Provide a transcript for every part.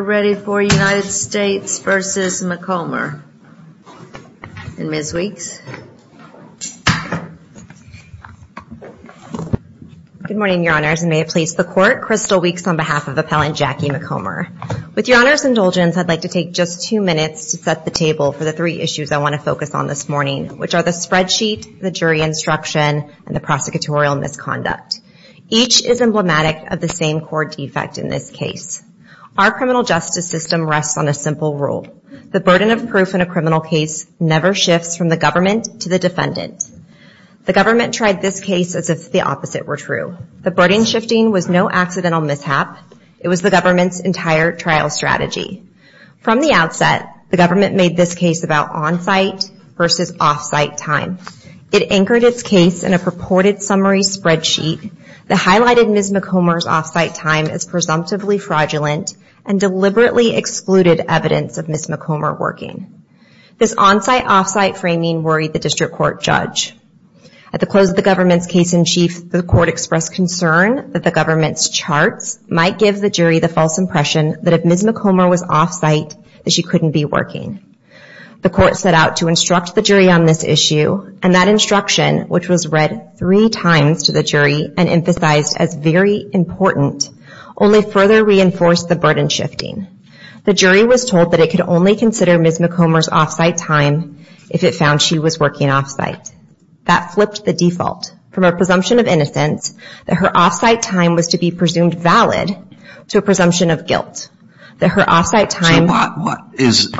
We're ready for United States v. McComber. And Ms. Weeks? Good morning, Your Honors, and may it please the Court, Crystal Weeks on behalf of Appellant Jacky McComber. With Your Honor's indulgence, I'd like to take just two minutes to set the table for the three issues I want to focus on this morning, which are the spreadsheet, the jury instruction, and the prosecutorial misconduct. Each is emblematic of the same or defect in this case. Our criminal justice system rests on a simple rule. The burden of proof in a criminal case never shifts from the government to the defendant. The government tried this case as if the opposite were true. The burden shifting was no accidental mishap. It was the government's entire trial strategy. From the outset, the government made this case about on-site versus off-site time. It anchored its case in a purported summary spreadsheet that highlighted Ms. McComber's off-site time as presumptively fraudulent and deliberately excluded evidence of Ms. McComber working. This on-site, off-site framing worried the district court judge. At the close of the government's case in chief, the court expressed concern that the government's charts might give the jury the false impression that if Ms. McComber was off-site, that she couldn't be working. The court set out to instruct the jury on this issue, and that instruction, which was read three times to the jury and emphasized as very important, only further reinforced the burden shifting. The jury was told that it could only consider Ms. McComber's off-site time if it found she was working off-site. That flipped the default from a presumption of innocence, that her off-site time was to be presumed valid, to a presumption of guilt. That her off-site time... What is...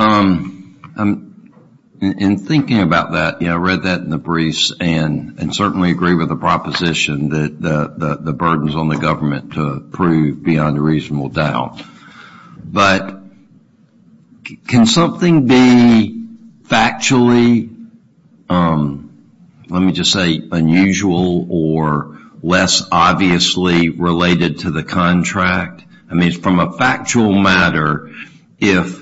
In thinking about that, I read that in the briefs, and certainly agree with the proposition that the burden is on the government to prove beyond a reasonable doubt. But can something be factually, let me just say, unusual or less obviously related to the contract? I mean, from a factual matter, if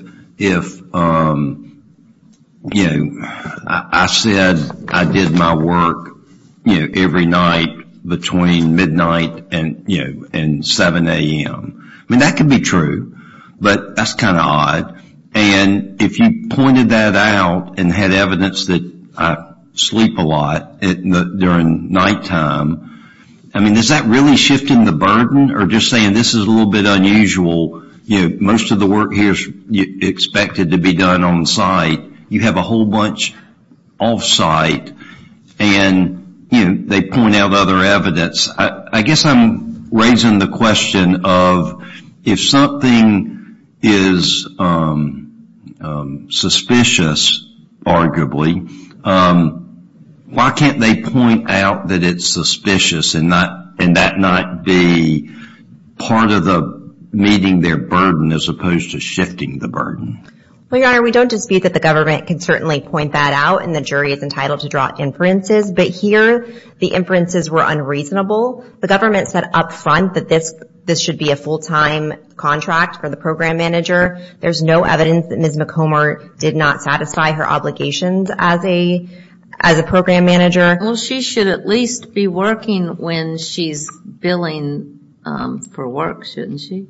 I said I did my work every night between midnight and 7 a.m., I mean, that could be true, but that's kind of odd. And if you pointed that out and had evidence that I sleep a lot during nighttime, I mean, is that really shifting the burden, or just saying this is a little bit unusual? Most of the work here is expected to be done on-site. You have a whole bunch off-site, and they point out other evidence. I guess I'm raising the question of, if something is suspicious, arguably, why can't they point out that it's suspicious, and that not be part of meeting their burden, as opposed to shifting the burden? Well, Your Honor, we don't dispute that the government can certainly point that out, and the jury is entitled to draw inferences. But here, the inferences were unreasonable. The government said up front that this should be a full-time contract for the program manager. There's no evidence that Ms. McComart did not satisfy her obligations as a program manager. Well, she should at least be working when she's billing for work, shouldn't she?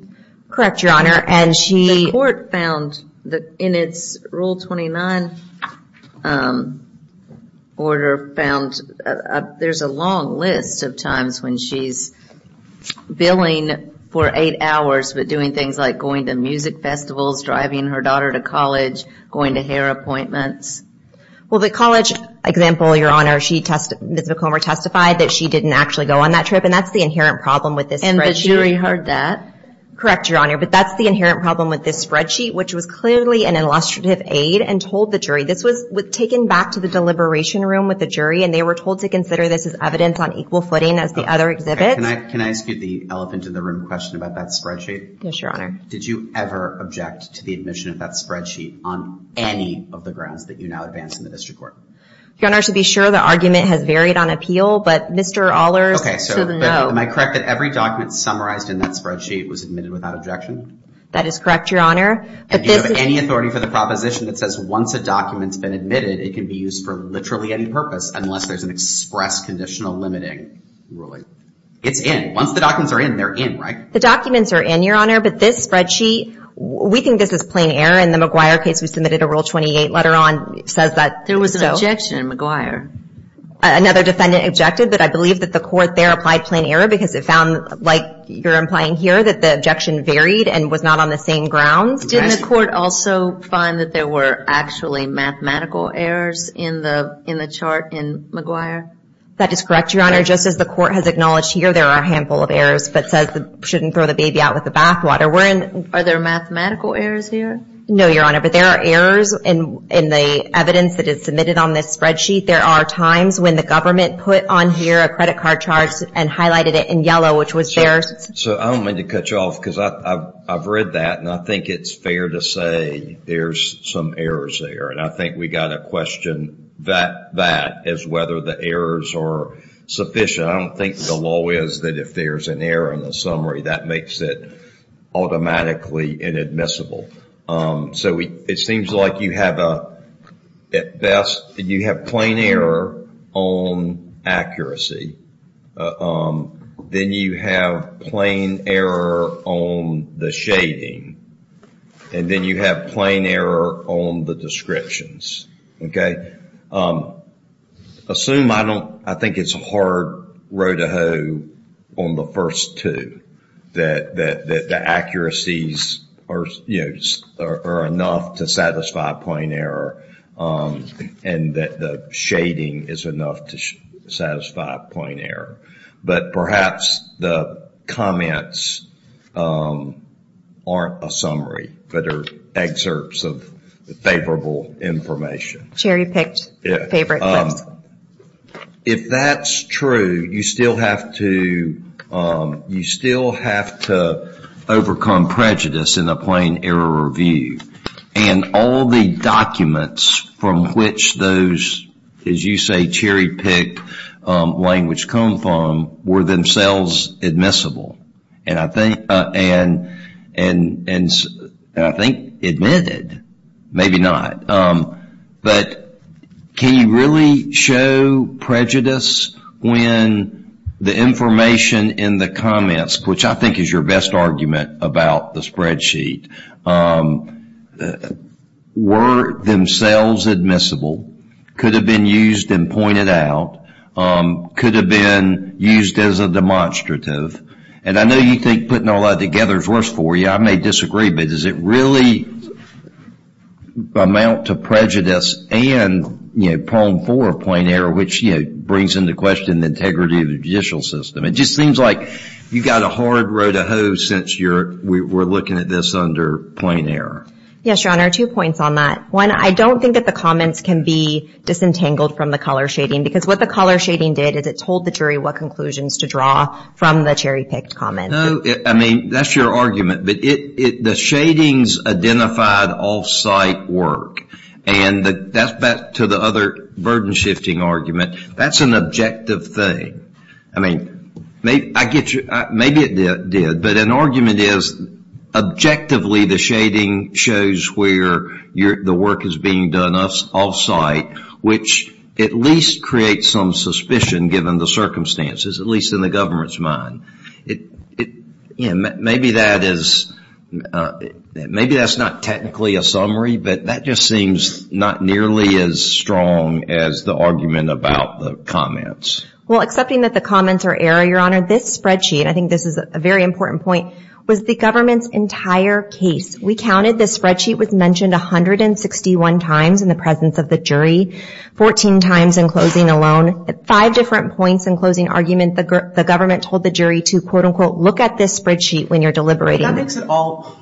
Correct, Your Honor. And the court found, in its Rule 29 order, found there's a long list of times when she's billing for eight hours, but doing things like going to music festivals, driving her daughter to college, going to hair appointments. Well, the college example, Your Honor, Ms. McComart testified that she didn't actually go on that trip, and that's the inherent problem with this spreadsheet. And the jury heard that? Correct, Your Honor, but that's the inherent problem with this spreadsheet, which was clearly an illustrative aid and told the jury. This was taken back to the deliberation room with the jury, and they were told to consider this as evidence on equal footing as the other exhibits. Can I ask you the elephant in the room question about that spreadsheet? Yes, Your Honor. Does the jury object to the admission of that spreadsheet on any of the grounds that you now advance in the district court? Your Honor, to be sure, the argument has varied on appeal, but Mr. Ahlers, to the no. Okay, so am I correct that every document summarized in that spreadsheet was admitted without objection? That is correct, Your Honor, but this is... And do you have any authority for the proposition that says, once a document's been admitted, it can be used for literally any purpose, unless there's an express conditional limiting ruling? It's in. Once the documents are in, they're in, right? The documents are in, Your Honor. We think this is plain error. In the McGuire case, we submitted a Rule 28 letter on... It says that... There was an objection in McGuire. Another defendant objected, but I believe that the court there applied plain error because it found, like you're implying here, that the objection varied and was not on the same grounds. Didn't the court also find that there were actually mathematical errors in the chart in McGuire? That is correct, Your Honor. Just as the court has acknowledged here, there are a handful of errors, but says it shouldn't throw the baby out with the bathwater. We're in... Are there mathematical errors here? No, Your Honor, but there are errors in the evidence that is submitted on this spreadsheet. There are times when the government put on here a credit card chart and highlighted it in yellow, which was there... I don't mean to cut you off, because I've read that, and I think it's fair to say there's some errors there, and I think we've got to question that as whether the errors are sufficient. I don't think the law is that if there's an error in the summary, that makes it automatically inadmissible. It seems like you have a... At best, you have plain error on accuracy. Then you have plain error on the shading, and then you have plain error on the descriptions. Okay? Assume I don't... I think it's hard row to hoe on the first two, that the accuracies are enough to satisfy plain error, and that the shading is enough to satisfy plain error. Perhaps the comments aren't a summary, but are excerpts of favorable information. Cherry-picked favorite list. If that's true, you still have to overcome prejudice in a plain error review. All the documents from which those, as you say, cherry-picked language come from, were themselves admissible, and I think admitted. Maybe not. Can you really... I don't know. I don't know. Can you show prejudice when the information in the comments, which I think is your best argument about the spreadsheet, were themselves admissible, could have been used and pointed out, could have been used as a demonstrative? I know you think putting all that together is worse for you. I may disagree, but does it really amount to prejudice and, you know, prong for plain error, which brings into question the integrity of the judicial system? It just seems like you've got a hard row to hoe since we're looking at this under plain error. Yes, Your Honor. Two points on that. One, I don't think that the comments can be disentangled from the color shading, because what the color shading did is it told the jury what conclusions to draw from the cherry-picked comments. No. I mean, that's your argument, but the shadings identified off-site work, and that's back to the other burden-shifting argument. That's an objective thing. I mean, maybe it did, but an argument is objectively the shading shows where the work is being done off-site, which at least creates some suspicion given the circumstances, at least in the government's mind. Maybe that's not technically a summary, but that just seems not nearly as objective and not nearly as strong as the argument about the comments. Well, accepting that the comments are error, Your Honor, this spreadsheet, and I think this is a very important point, was the government's entire case. We counted this spreadsheet was mentioned 161 times in the presence of the jury, 14 times in closing alone. At five different points in closing argument, the government told the jury to, quote-unquote, look at this spreadsheet when you're deliberating. That makes it all,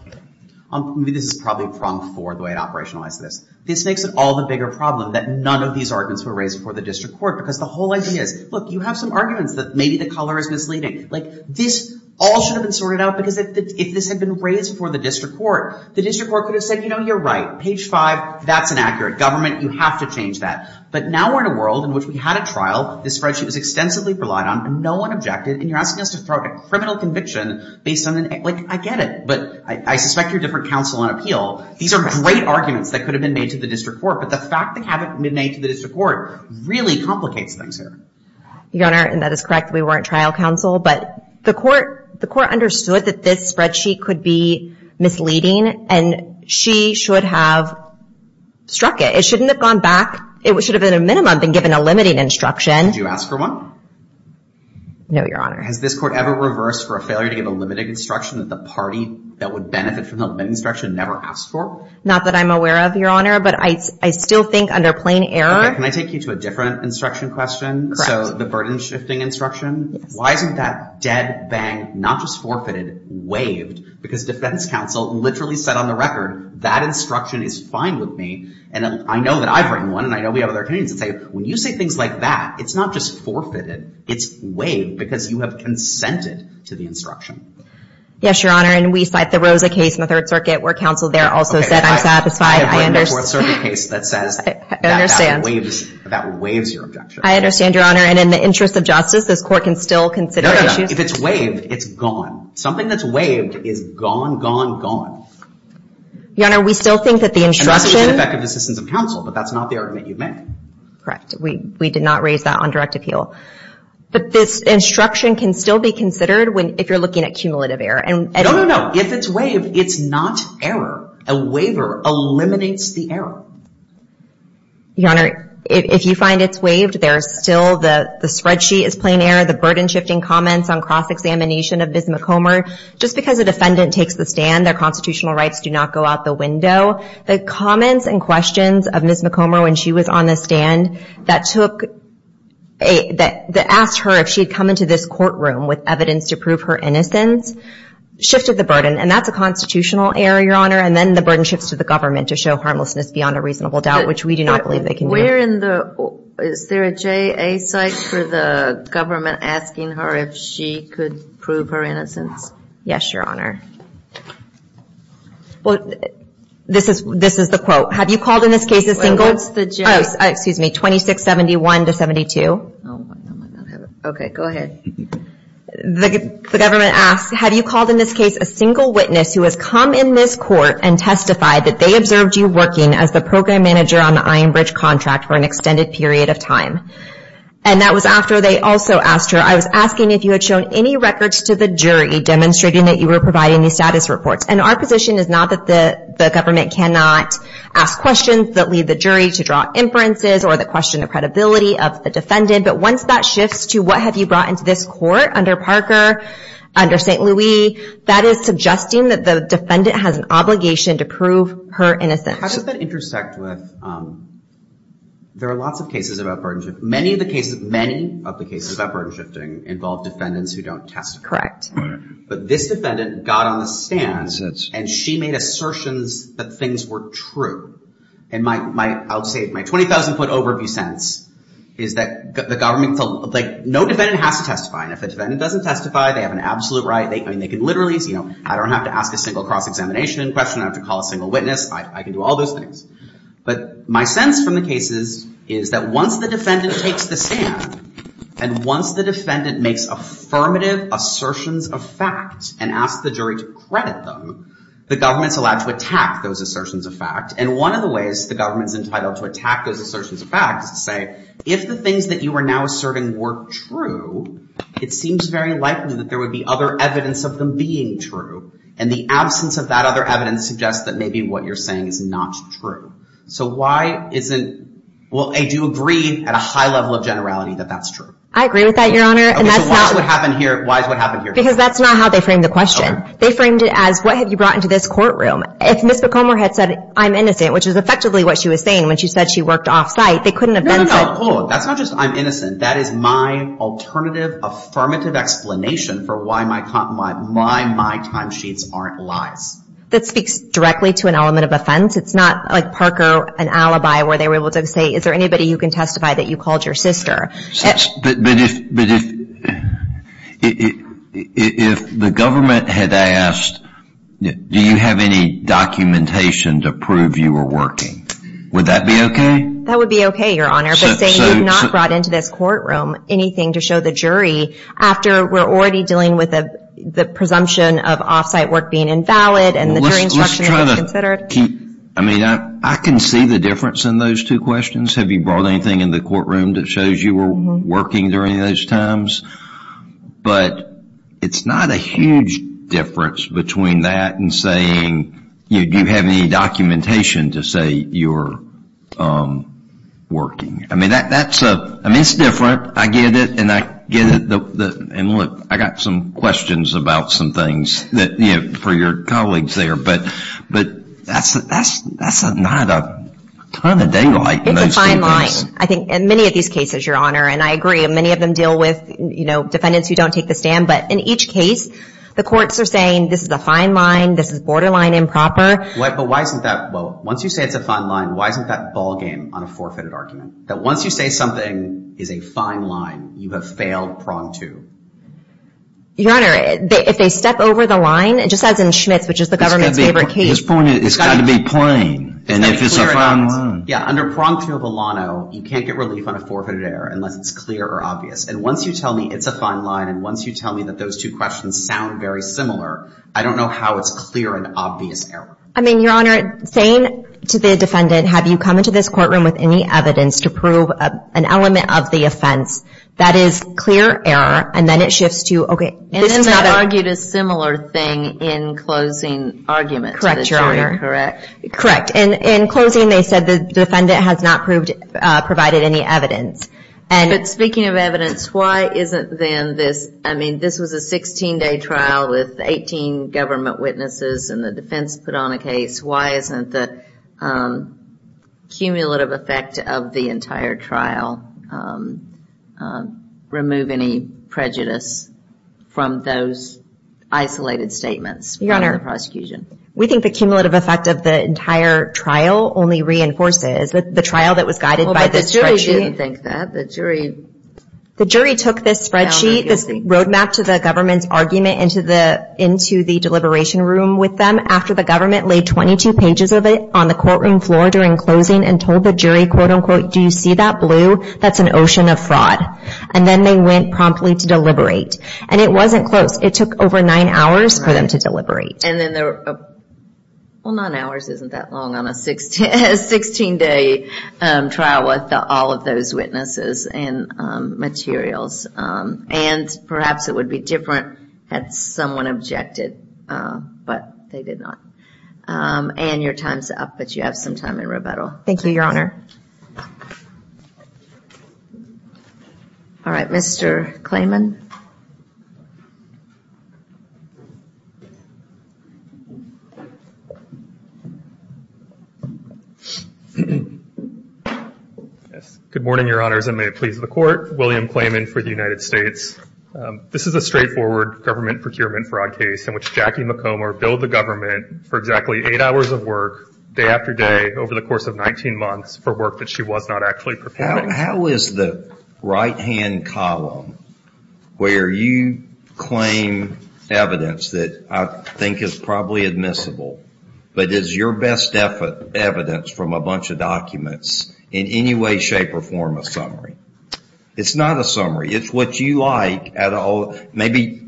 I mean, this is probably prong for the way it operationalized this. This makes it all the bigger problem that none of these arguments were raised before the district court, because the whole idea is, look, you have some arguments that maybe the color is misleading. This all should have been sorted out because if this had been raised before the district court, the district court could have said, you know, you're right. Page five, that's inaccurate. Government, you have to change that. But now we're in a world in which we had a trial, this spreadsheet was extensively relied on, and no one objected, and you're asking us to throw out a criminal conviction based on an... I get it, but I suspect you're different counsel on appeal. These are great arguments that could have been made to the district court, but the fact they haven't been made to the district court really complicates things here. Your Honor, and that is correct, we weren't trial counsel, but the court understood that this spreadsheet could be misleading, and she should have struck it. It shouldn't have gone back. It should have, at a minimum, been given a limiting instruction. Did you ask for one? No, Your Honor. Has this court ever reversed for a failure to give a limiting instruction that the party that would benefit from the limiting instruction never asked for? No, not that I'm aware of, Your Honor, but I still think under plain error... Can I take you to a different instruction question? Correct. The burden shifting instruction? Yes. Why isn't that dead bang, not just forfeited, waived? Because defense counsel literally said on the record, that instruction is fine with me, and I know that I've written one, and I know we have other opinions, and say, when you say things like that, it's not just forfeited, it's waived, because you have consented to the instruction. Yes, Your Honor, and we cite the Rosa case in the Third Circuit, where counsel there also said, I'm satisfied. I have written a Fourth Circuit case that says that waives your objection. I understand, Your Honor, and in the interest of justice, this court can still consider issues... No, no, no. If it's waived, it's gone. Something that's waived is gone, gone, gone. Your Honor, we still think that the instruction... Unless it was ineffective assistance of counsel, but that's not the argument you've made. Correct. We did not raise that on direct appeal. But this instruction can still be considered if you're looking at cumulative error, and... No, no, no. If it's waived, it's not error. A waiver eliminates the error. Your Honor, if you find it's waived, there's still the spreadsheet is plain error, the burden shifting comments on cross-examination of Ms. McComber. Just because a defendant takes the stand, their constitutional rights do not go out the window. The comments and questions of Ms. McComber, when she was on the stand, that asked her if she had come into this courtroom with evidence to prove her innocence, shifted the burden and that's a constitutional error, Your Honor, and then the burden shifts to the government to show harmlessness beyond a reasonable doubt, which we do not believe they can do. Where in the... Is there a JA site for the government asking her if she could prove her innocence? Yes, Your Honor. This is the quote. Have you called in this case a single... What's the JA? Oh, excuse me. 2671 to 72. Oh, I might not have it. Okay, go ahead. The government asks, have you called in this case a single witness who has come in this court and testified that they observed you working as the program manager on the Iron Bridge contract for an extended period of time? And that was after they also asked her, I was asking if you had shown any records to the jury demonstrating that you were providing the status reports. And our position is not that the government cannot ask questions that lead the jury to draw inferences or that question the credibility of the defendant, but once that shifts to what have you brought into this court under Parker, under St. Louis, that is suggesting that the defendant has an obligation to prove her innocence. How does that intersect with... There are lots of cases about burden shifting. Many of the cases, many of the cases about burden shifting involve defendants who don't testify. Correct. But this defendant got on the stand and she made assertions that things were true. And I'll say my 20,000-foot overview sense is that the government... No defendant has to testify. And if a defendant doesn't testify, they have an absolute right... I don't have to ask a single cross-examination question, I don't have to call a single witness. I can do all those things. But my sense from the cases is that once the defendant takes the stand and once the defendant makes affirmative assertions of fact and asks the jury to credit them, the government's entitled to attack those assertions of fact. And one of the ways the government's entitled to attack those assertions of fact is to say, if the things that you are now asserting were true, it seems very likely that there would be other evidence of them being true. And the absence of that other evidence suggests that maybe what you're saying is not true. So why isn't... Well, A, do you agree at a high level of generality that that's true? I agree with that, Your Honor. And that's not... Okay, so why is what happened here? Because that's not how they framed the question. They framed it as, what have you brought into this courtroom? If Ms. McCormick had said, I'm innocent, which is effectively what she was saying when she said she worked off-site, they couldn't have been... No, no, no. Hold on. That's not just I'm innocent. That is my alternative, affirmative explanation for why my timesheets aren't lies. That speaks directly to an element of offense. It's not like Parker, an alibi, where they were able to say, is there anybody you can testify that you called your sister? But if the government had asked, do you have any documentation to prove you were working? Would that be okay? That would be okay, Your Honor, but saying you've not brought into this courtroom anything to show the jury after we're already dealing with the presumption of off-site work being invalid and the jury instruction has been considered. I mean, I can see the difference in those two questions. Have you brought anything into the courtroom that shows you were working during those times? But it's not a huge difference between that and saying, do you have any documentation to say you're working? I mean, it's different. I get it. I get it. Look, I got some questions about some things for your colleagues there, but that's not It's a fine line, I think, in many of these cases, Your Honor, and I agree, many of them deal with defendants who don't take the stand, but in each case, the courts are saying, this is a fine line, this is borderline improper. But why isn't that, well, once you say it's a fine line, why isn't that ballgame on a forfeited argument? That once you say something is a fine line, you have failed prong two. Your Honor, if they step over the line, just as in Schmitz, which is the government's favorite case. At this point, it's got to be plain, and if it's a fine line. Yeah, under prong two of Alano, you can't get relief on a forfeited error unless it's clear or obvious, and once you tell me it's a fine line, and once you tell me that those two questions sound very similar, I don't know how it's clear and obvious error. I mean, Your Honor, saying to the defendant, have you come into this courtroom with any evidence to prove an element of the offense that is clear error, and then it shifts to, okay, this is not a You argued a similar thing in closing argument to this, Your Honor. Correct. In closing, they said the defendant has not provided any evidence. But speaking of evidence, why isn't then this, I mean, this was a 16-day trial with 18 government witnesses and the defense put on a case, why isn't the cumulative effect of the entire trial remove any prejudice from those isolated statements from the prosecution? We think the cumulative effect of the entire trial only reinforces the trial that was guided by this spreadsheet. Well, but the jury didn't think that. The jury took this spreadsheet, this roadmap to the government's argument into the deliberation room with them after the government laid 22 pages of it on the courtroom floor during closing and told the jury, quote-unquote, do you see that blue? That's an ocean of fraud. And then they went promptly to deliberate. And it wasn't close. It took over nine hours for them to deliberate. And then there were, well, nine hours isn't that long on a 16-day trial with all of those witnesses and materials. And perhaps it would be different had someone objected, but they did not. Anne, your time's up, but you have some time in rebuttal. Thank you, Your Honor. All right, Mr. Klayman. Good morning, Your Honors, and may it please the Court. William Klayman for the United States. This is a straightforward government procurement fraud case in which Jackie McComber billed the government for exactly eight hours of work day after day over the course of 19 months for work that she was not actually preparing. How is the right-hand column where you claim evidence that I think is probably admissible, but is your best evidence from a bunch of documents in any way, shape, or form a summary? It's not a summary. It's what you like out of all maybe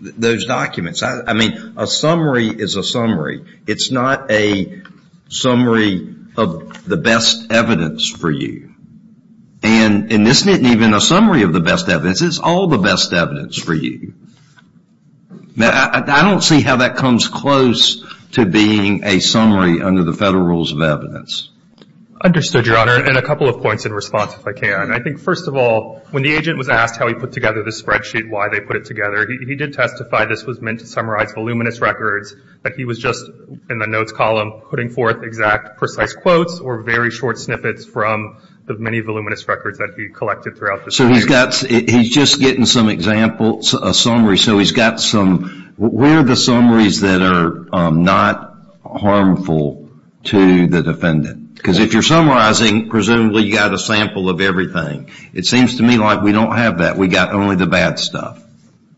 those documents. I mean, a summary is a summary. It's not a summary of the best evidence for you. And this isn't even a summary of the best evidence. It's all the best evidence for you. I don't see how that comes close to being a summary under the federal rules of evidence. Understood, Your Honor, and a couple of points in response, if I can. I think, first of all, when the agent was asked how he put together this spreadsheet, why they put it together, he did testify this was meant to summarize voluminous records that he was just, in the notes column, putting forth exact, precise quotes or very short snippets from the many voluminous records that he collected throughout the period. So he's just getting some examples, a summary. So he's got some, where are the summaries that are not harmful to the defendant? Because if you're summarizing, presumably you've got a sample of everything. It seems to me like we don't have that. We've got only the bad stuff.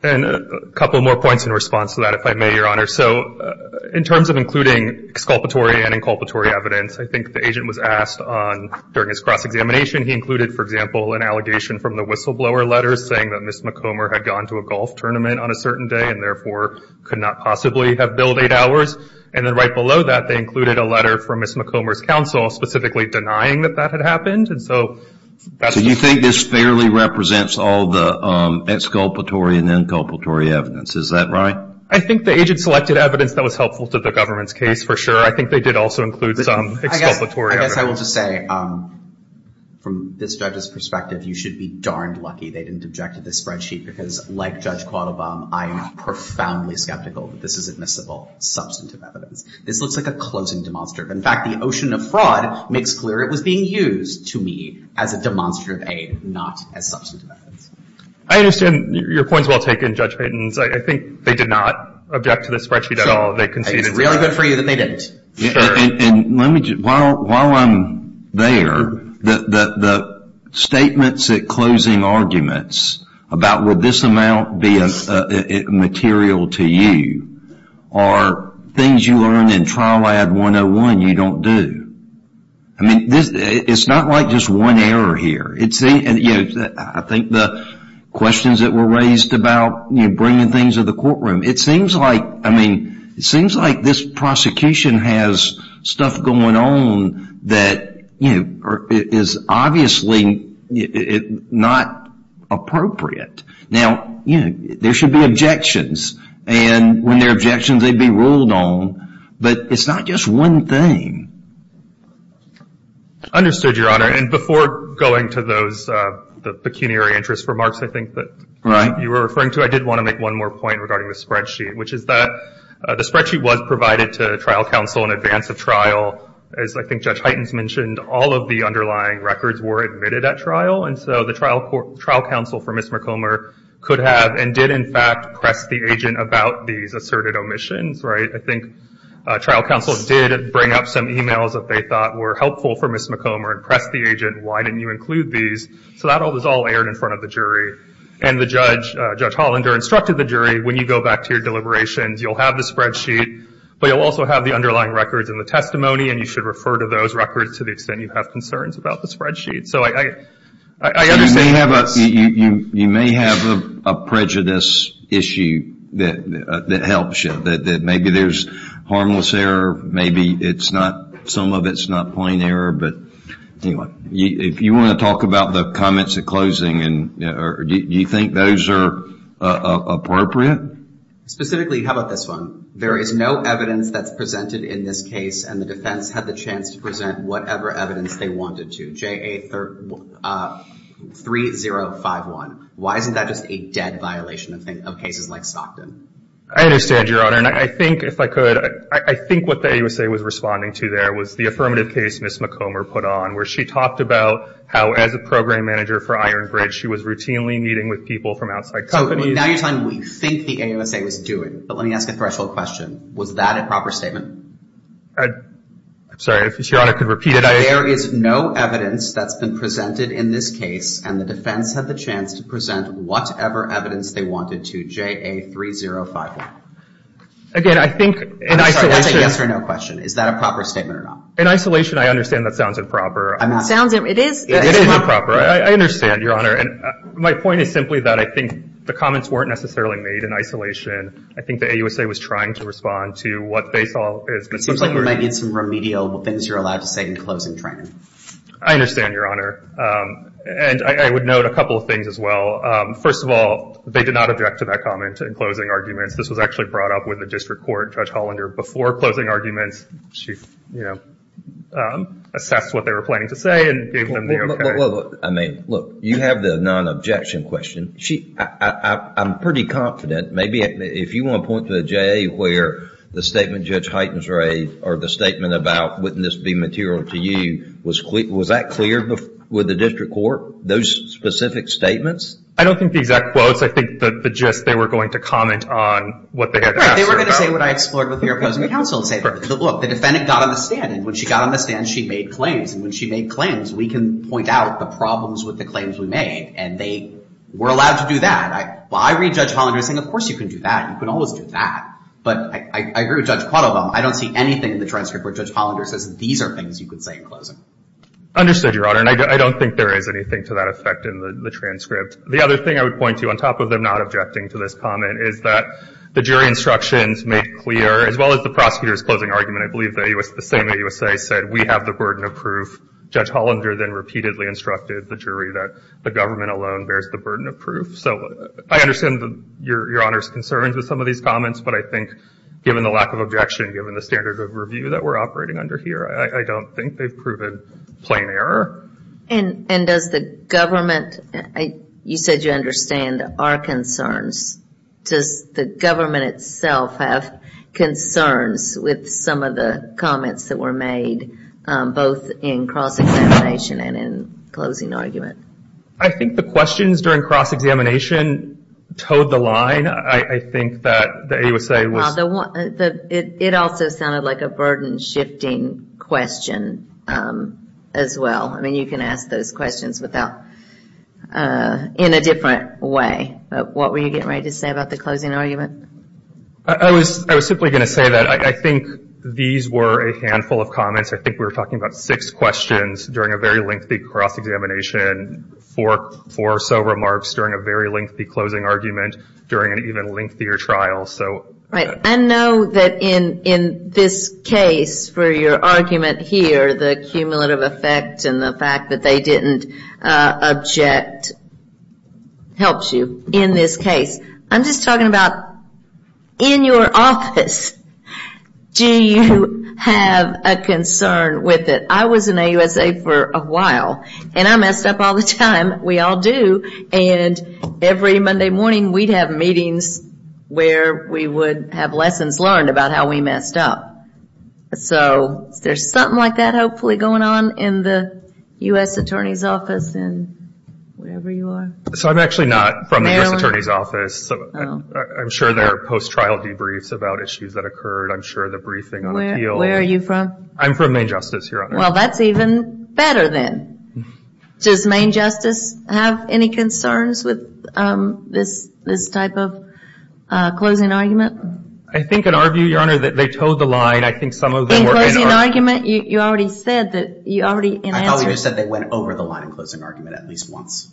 And a couple more points in response to that, if I may, Your Honor. So in terms of including exculpatory and inculpatory evidence, I think the agent was asked during his cross-examination, he included, for example, an allegation from the whistleblower letters saying that Ms. McComber had gone to a golf tournament on a certain day and therefore could not possibly have billed eight hours. And then right below that, they included a letter from Ms. McComber's counsel specifically denying that that had happened. So you think this fairly represents all the exculpatory and inculpatory evidence? Is that right? I think the agent selected evidence that was helpful to the government's case, for sure. I think they did also include some exculpatory evidence. I guess I will just say, from this judge's perspective, you should be darned lucky they didn't object to this spreadsheet because like Judge Quattlebaum, I am profoundly skeptical that this is admissible, substantive evidence. This looks like a closing demonstrative. In fact, the ocean of fraud makes clear it was being used to me as a demonstrative aid, not as substantive evidence. I understand your point is well taken, Judge Paytons. I think they did not object to this spreadsheet at all. It's really good for you that they didn't. And while I'm there, the statements at closing arguments about would this amount be material to you are things you learn in trial ad 101 you don't do. It's not like just one error here. I think the questions that were raised about bringing things to the courtroom, it seems like this prosecution has stuff going on that is obviously not appropriate. Now, there should be objections. And when there are objections, they'd be ruled on. But it's not just one thing. Understood, Your Honor. And before going to those pecuniary interest remarks I think that you were referring to, I did want to make one more point regarding the spreadsheet, which is that the spreadsheet was provided to trial counsel in advance of trial. As I think Judge Hytens mentioned, all of the underlying records were admitted at trial. And so the trial counsel for Ms. McComber could have and did in fact press the agent about these asserted omissions. I think trial counsel did bring up some emails that they thought were helpful for Ms. McComber and pressed the agent, why didn't you include these? So that was all aired in front of the jury. And Judge Hollander instructed the jury, when you go back to your deliberations, you'll have the spreadsheet, but you'll also have the underlying records and the testimony, and you should refer to those records to the extent you have concerns about the spreadsheet. So I understand... You may have a prejudice issue that helps you, that maybe there's harmless error, maybe some of it's not plain error, but if you want to talk about the comments at closing, do you think those are appropriate? Specifically, how about this one? There is no evidence that's presented in this case, and the defense had the chance to present whatever evidence they wanted to. J.A. 3051. Why isn't that just a dead violation of cases like Stockton? I understand, Your Honor, and I think if I could, I think what the AUSA was responding to there was the affirmative case Ms. McComber put on, where she talked about how as a program manager for IronBridge, she was routinely meeting with people from outside companies... So now you're telling me what you think the AUSA was doing, but let me ask a threshold question. Was that a proper statement? I'm sorry, if Your Honor could repeat it, I... There is no evidence that's been presented in this case, and the defense had the chance to present whatever evidence they wanted to, J.A. 3051. Again, I think... I'm sorry, that's a yes or no question. Is that a proper statement or not? In isolation, I understand that sounds improper. It is... It is improper. I understand, Your Honor, and my point is simply that I think the comments weren't necessarily made in isolation. I think the AUSA was trying to respond to what they saw as... It seems like there might be some remedial things you're allowed to say in closing training. I understand, Your Honor. And I would note a couple of things as well. First of all, they did not object to that comment in closing arguments. This was actually brought up with the district court. Judge Hollander, before closing arguments, she, you know, assessed what they were planning to say and gave them the okay. Look, you have the non-objection question. I'm pretty confident, maybe if you want to point to the J.A. where the statement Judge Heitens made or the statement about wouldn't this be material to you, was that clear with the district court? Those specific statements? I don't think the exact quotes. I think the gist, they were going to comment on what they had to say. They were going to say what I explored with the opposing counsel and say, look, the defendant got on the stand. And when she got on the stand, she made claims. And when she made claims, we can point out the problems with the claims we made. And they were allowed to do that. I read Judge Hollander saying, of course you can do that. You can always do that. But I agree with Judge Quattlebaum. I don't see anything in the transcript where Judge Hollander says these are things you could say in closing. Understood, Your Honor. And I don't think there is anything to that effect in the transcript. The other thing I would point to, on top of them not objecting to this comment, is that the jury instructions made clear, as well as the prosecutor's closing argument, I believe the same AUSA said, we have the burden of proof. Judge Hollander then repeatedly instructed the jury that the government alone bears the burden of proof. So I understand Your Honor's concerns with some of these comments. But I think, given the lack of objection, given the standard of review that we're operating under here, I don't think they've proven plain error. And does the government... You said you understand our concerns. Does the government itself have concerns with some of the comments that were made, both in cross-examination and in closing argument? I think the questions during cross-examination toed the line. I think that the AUSA was... It also sounded like a burden-shifting question, as well. I mean, you can ask those questions in a different way. What were you getting ready to say about the closing argument? I was simply going to say that I think these were a handful of comments. I think we were talking about six questions during a very lengthy cross-examination, four or so remarks during a very lengthy closing argument during an even lengthier trial. I know that in this case, for your argument here, the cumulative effect and the fact that they didn't object helps you in this case. I'm just talking about, in your office, do you have a concern with it? I was in AUSA for a while. And I messed up all the time. We all do. And every Monday morning, we'd have meetings where we would have lessons learned about how we messed up. So, is there something like that hopefully going on in the U.S. Attorney's Office and wherever you are? So, I'm actually not from the U.S. Attorney's Office. I'm sure there are post-trial debriefs about issues that occurred. I'm sure the briefing on appeal... Where are you from? I'm from Maine Justice. Well, that's even better, then. Does Maine Justice have any concerns with this type of closing argument? I think in our view, Your Honor, they towed the line. In closing argument, you already said that... I thought you said they went over the line in closing argument at least once.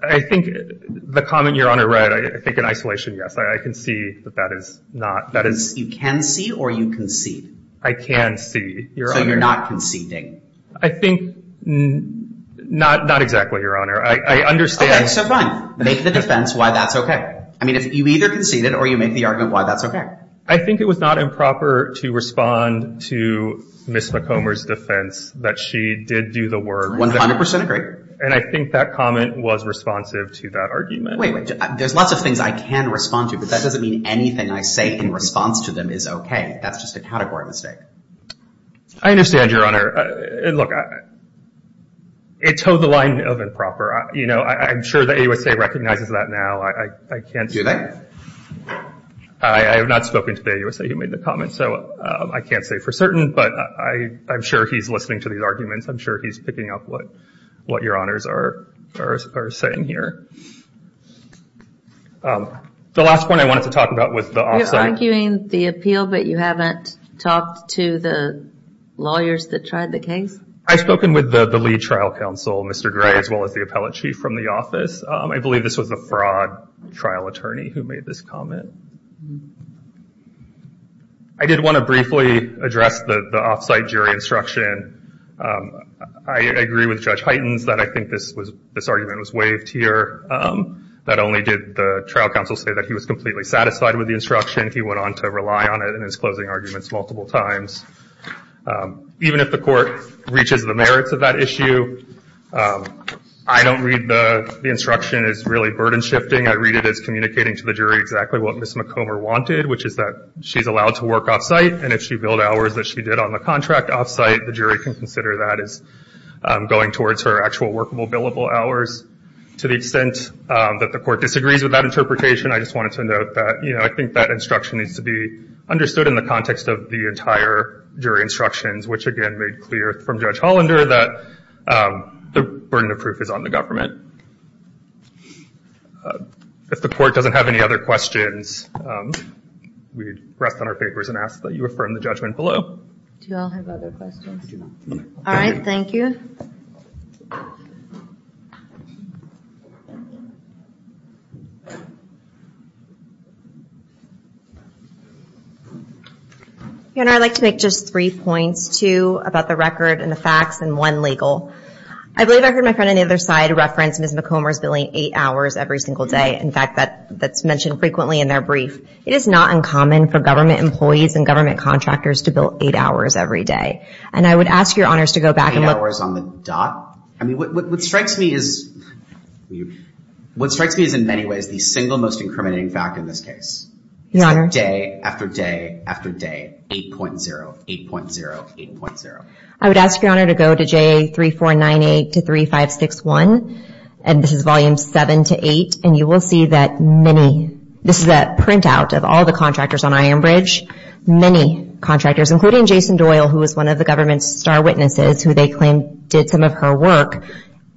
I think the comment Your Honor read, I think in isolation, yes. I can see that that is not... You can see or you concede? I can see. So, you're not conceding? I think not exactly, Your Honor. I understand... Okay, so fine. Make the defense why that's okay. I mean, you either concede it or you make the argument why that's okay. I think it was not improper to respond to Ms. McComber's defense that she did do the work. 100% agree. And I think that comment was responsive to that argument. Wait, wait. There's lots of things I can respond to, but that doesn't mean anything I say in response to them is okay. That's just a category mistake. I understand, Your Honor. Look, it towed the line of improper. I'm sure the AUSA recognizes that now. I can't say... Do they? I have not spoken to the AUSA who made the comment, so I can't say for certain, but I'm sure he's listening to these arguments. I'm sure he's picking up what Your Honors are saying here. The last point I wanted to talk about with the officer... You're arguing the appeal, but you haven't talked to the lawyers that tried the case? I've spoken with the lead trial counsel, Mr. Gray, as well as the appellate chief from the office. I believe this was the fraud trial attorney who made this comment. I did want to briefly address the off-site jury instruction. I agree with Judge Heitens that I think this argument was waived here. Not only did the trial counsel say that he was completely satisfied with the instruction, he went on to rely on it in his closing arguments multiple times. Even if the court reaches the merits of that issue, I don't read the instruction as really burden-shifting. I read it as communicating to the jury exactly what Ms. McComber wanted, which is that she's allowed to work off-site, and if she billed hours that she did on the contract off-site, the jury can consider that as going towards her actual workable, billable hours. To the extent that the court disagrees with that interpretation, I just wanted to note that I think that instruction needs to be understood in the context of the entire jury instructions, which, again, made clear from Judge Hollander that the burden of proof is on the government. If the court doesn't have any other questions, we'd rest on our papers and ask that you affirm the judgment below. Do you all have other questions? All right, thank you. Your Honor, I'd like to make just three points, too, about the record and the facts, and one legal. I believe I heard my friend on the other side reference Ms. McComber's billing eight hours every single day. In fact, that's mentioned frequently in their brief. It is not uncommon for government employees and government contractors to bill eight hours every day. And I would ask Your Honors to go back and look... Eight hours on the dot? I mean, what strikes me is... What strikes me is, in many ways, the single most incriminating fact in this case. It's like day after day after day, 8.0, 8.0, 8.0. I would ask Your Honor to go to JA 3498-3561, and this is volumes 7 to 8, and you will see that many... This is a printout of all the contractors on Ironbridge. Many contractors, including Jason Doyle, who was one of the government's star witnesses, who they claim did some of her work,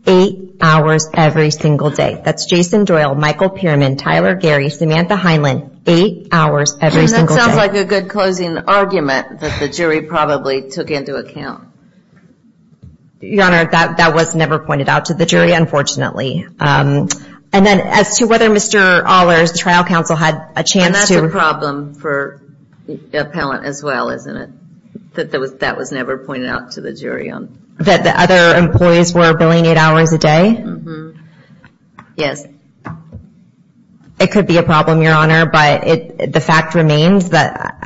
eight hours every single day. That's Jason Doyle, Michael Pierman, Tyler Gary, Samantha Heinlein. Eight hours every single day. And that sounds like a good closing argument that the jury probably took into account. Your Honor, that was never pointed out to the jury, unfortunately. And then, as to whether Mr. Ahler's trial counsel had a chance to... And that's a problem for the appellant as well, isn't it? That that was never pointed out to the jury? That the other employees were billing eight hours a day? Mm-hmm. Yes. I mean, it could be a problem, Your Honor, but the fact remains that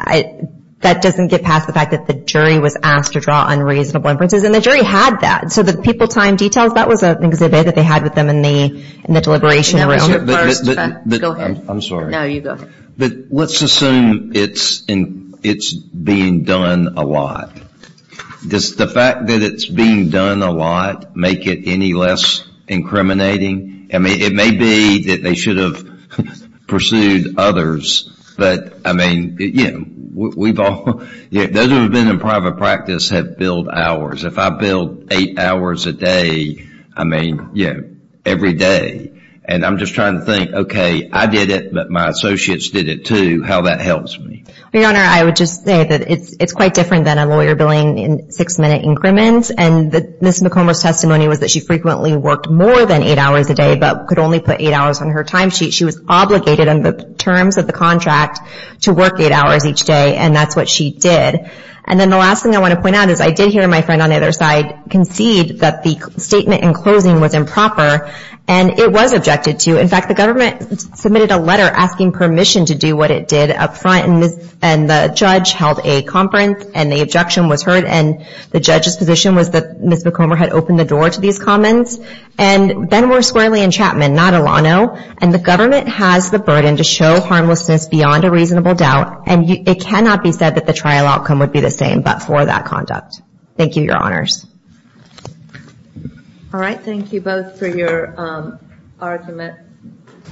that doesn't get past the fact that the jury was asked to draw unreasonable inferences, and the jury had that. So the people time details, that was an exhibit that they had with them in the deliberation room. Go ahead. I'm sorry. No, you go ahead. But let's assume it's being done a lot. Does the fact that it's being done a lot make it any less incriminating? I mean, it may be that they should have pursued others, but, I mean, you know, we've all... Those who have been in private practice have billed hours. If I bill eight hours a day, I mean, you know, every day, and I'm just trying to think, okay, I did it, but my associates did it too, how that helps me? Your Honor, I would just say that it's quite different than a lawyer billing in six-minute increments, and Ms. McCormick's testimony was that she frequently worked more than eight hours a day, but could only put eight hours on her time sheet. She was obligated under the terms of the contract to work eight hours each day, and that's what she did. And then the last thing I want to point out is I did hear my friend on the other side concede that the statement in closing was improper, and it was objected to. In fact, the government submitted a letter asking permission to do what it did up front, and the judge held a conference, and the objection was heard, and the judge's position was that Ms. McCormick had opened the door to these comments. And Benmore, Squirrelly, and Chapman, not Alano, and the government has the burden to show harmlessness beyond a reasonable doubt, and it cannot be said that the trial outcome would be the same but for that conduct. Thank you, Your Honors. All right, thank you both for your argument.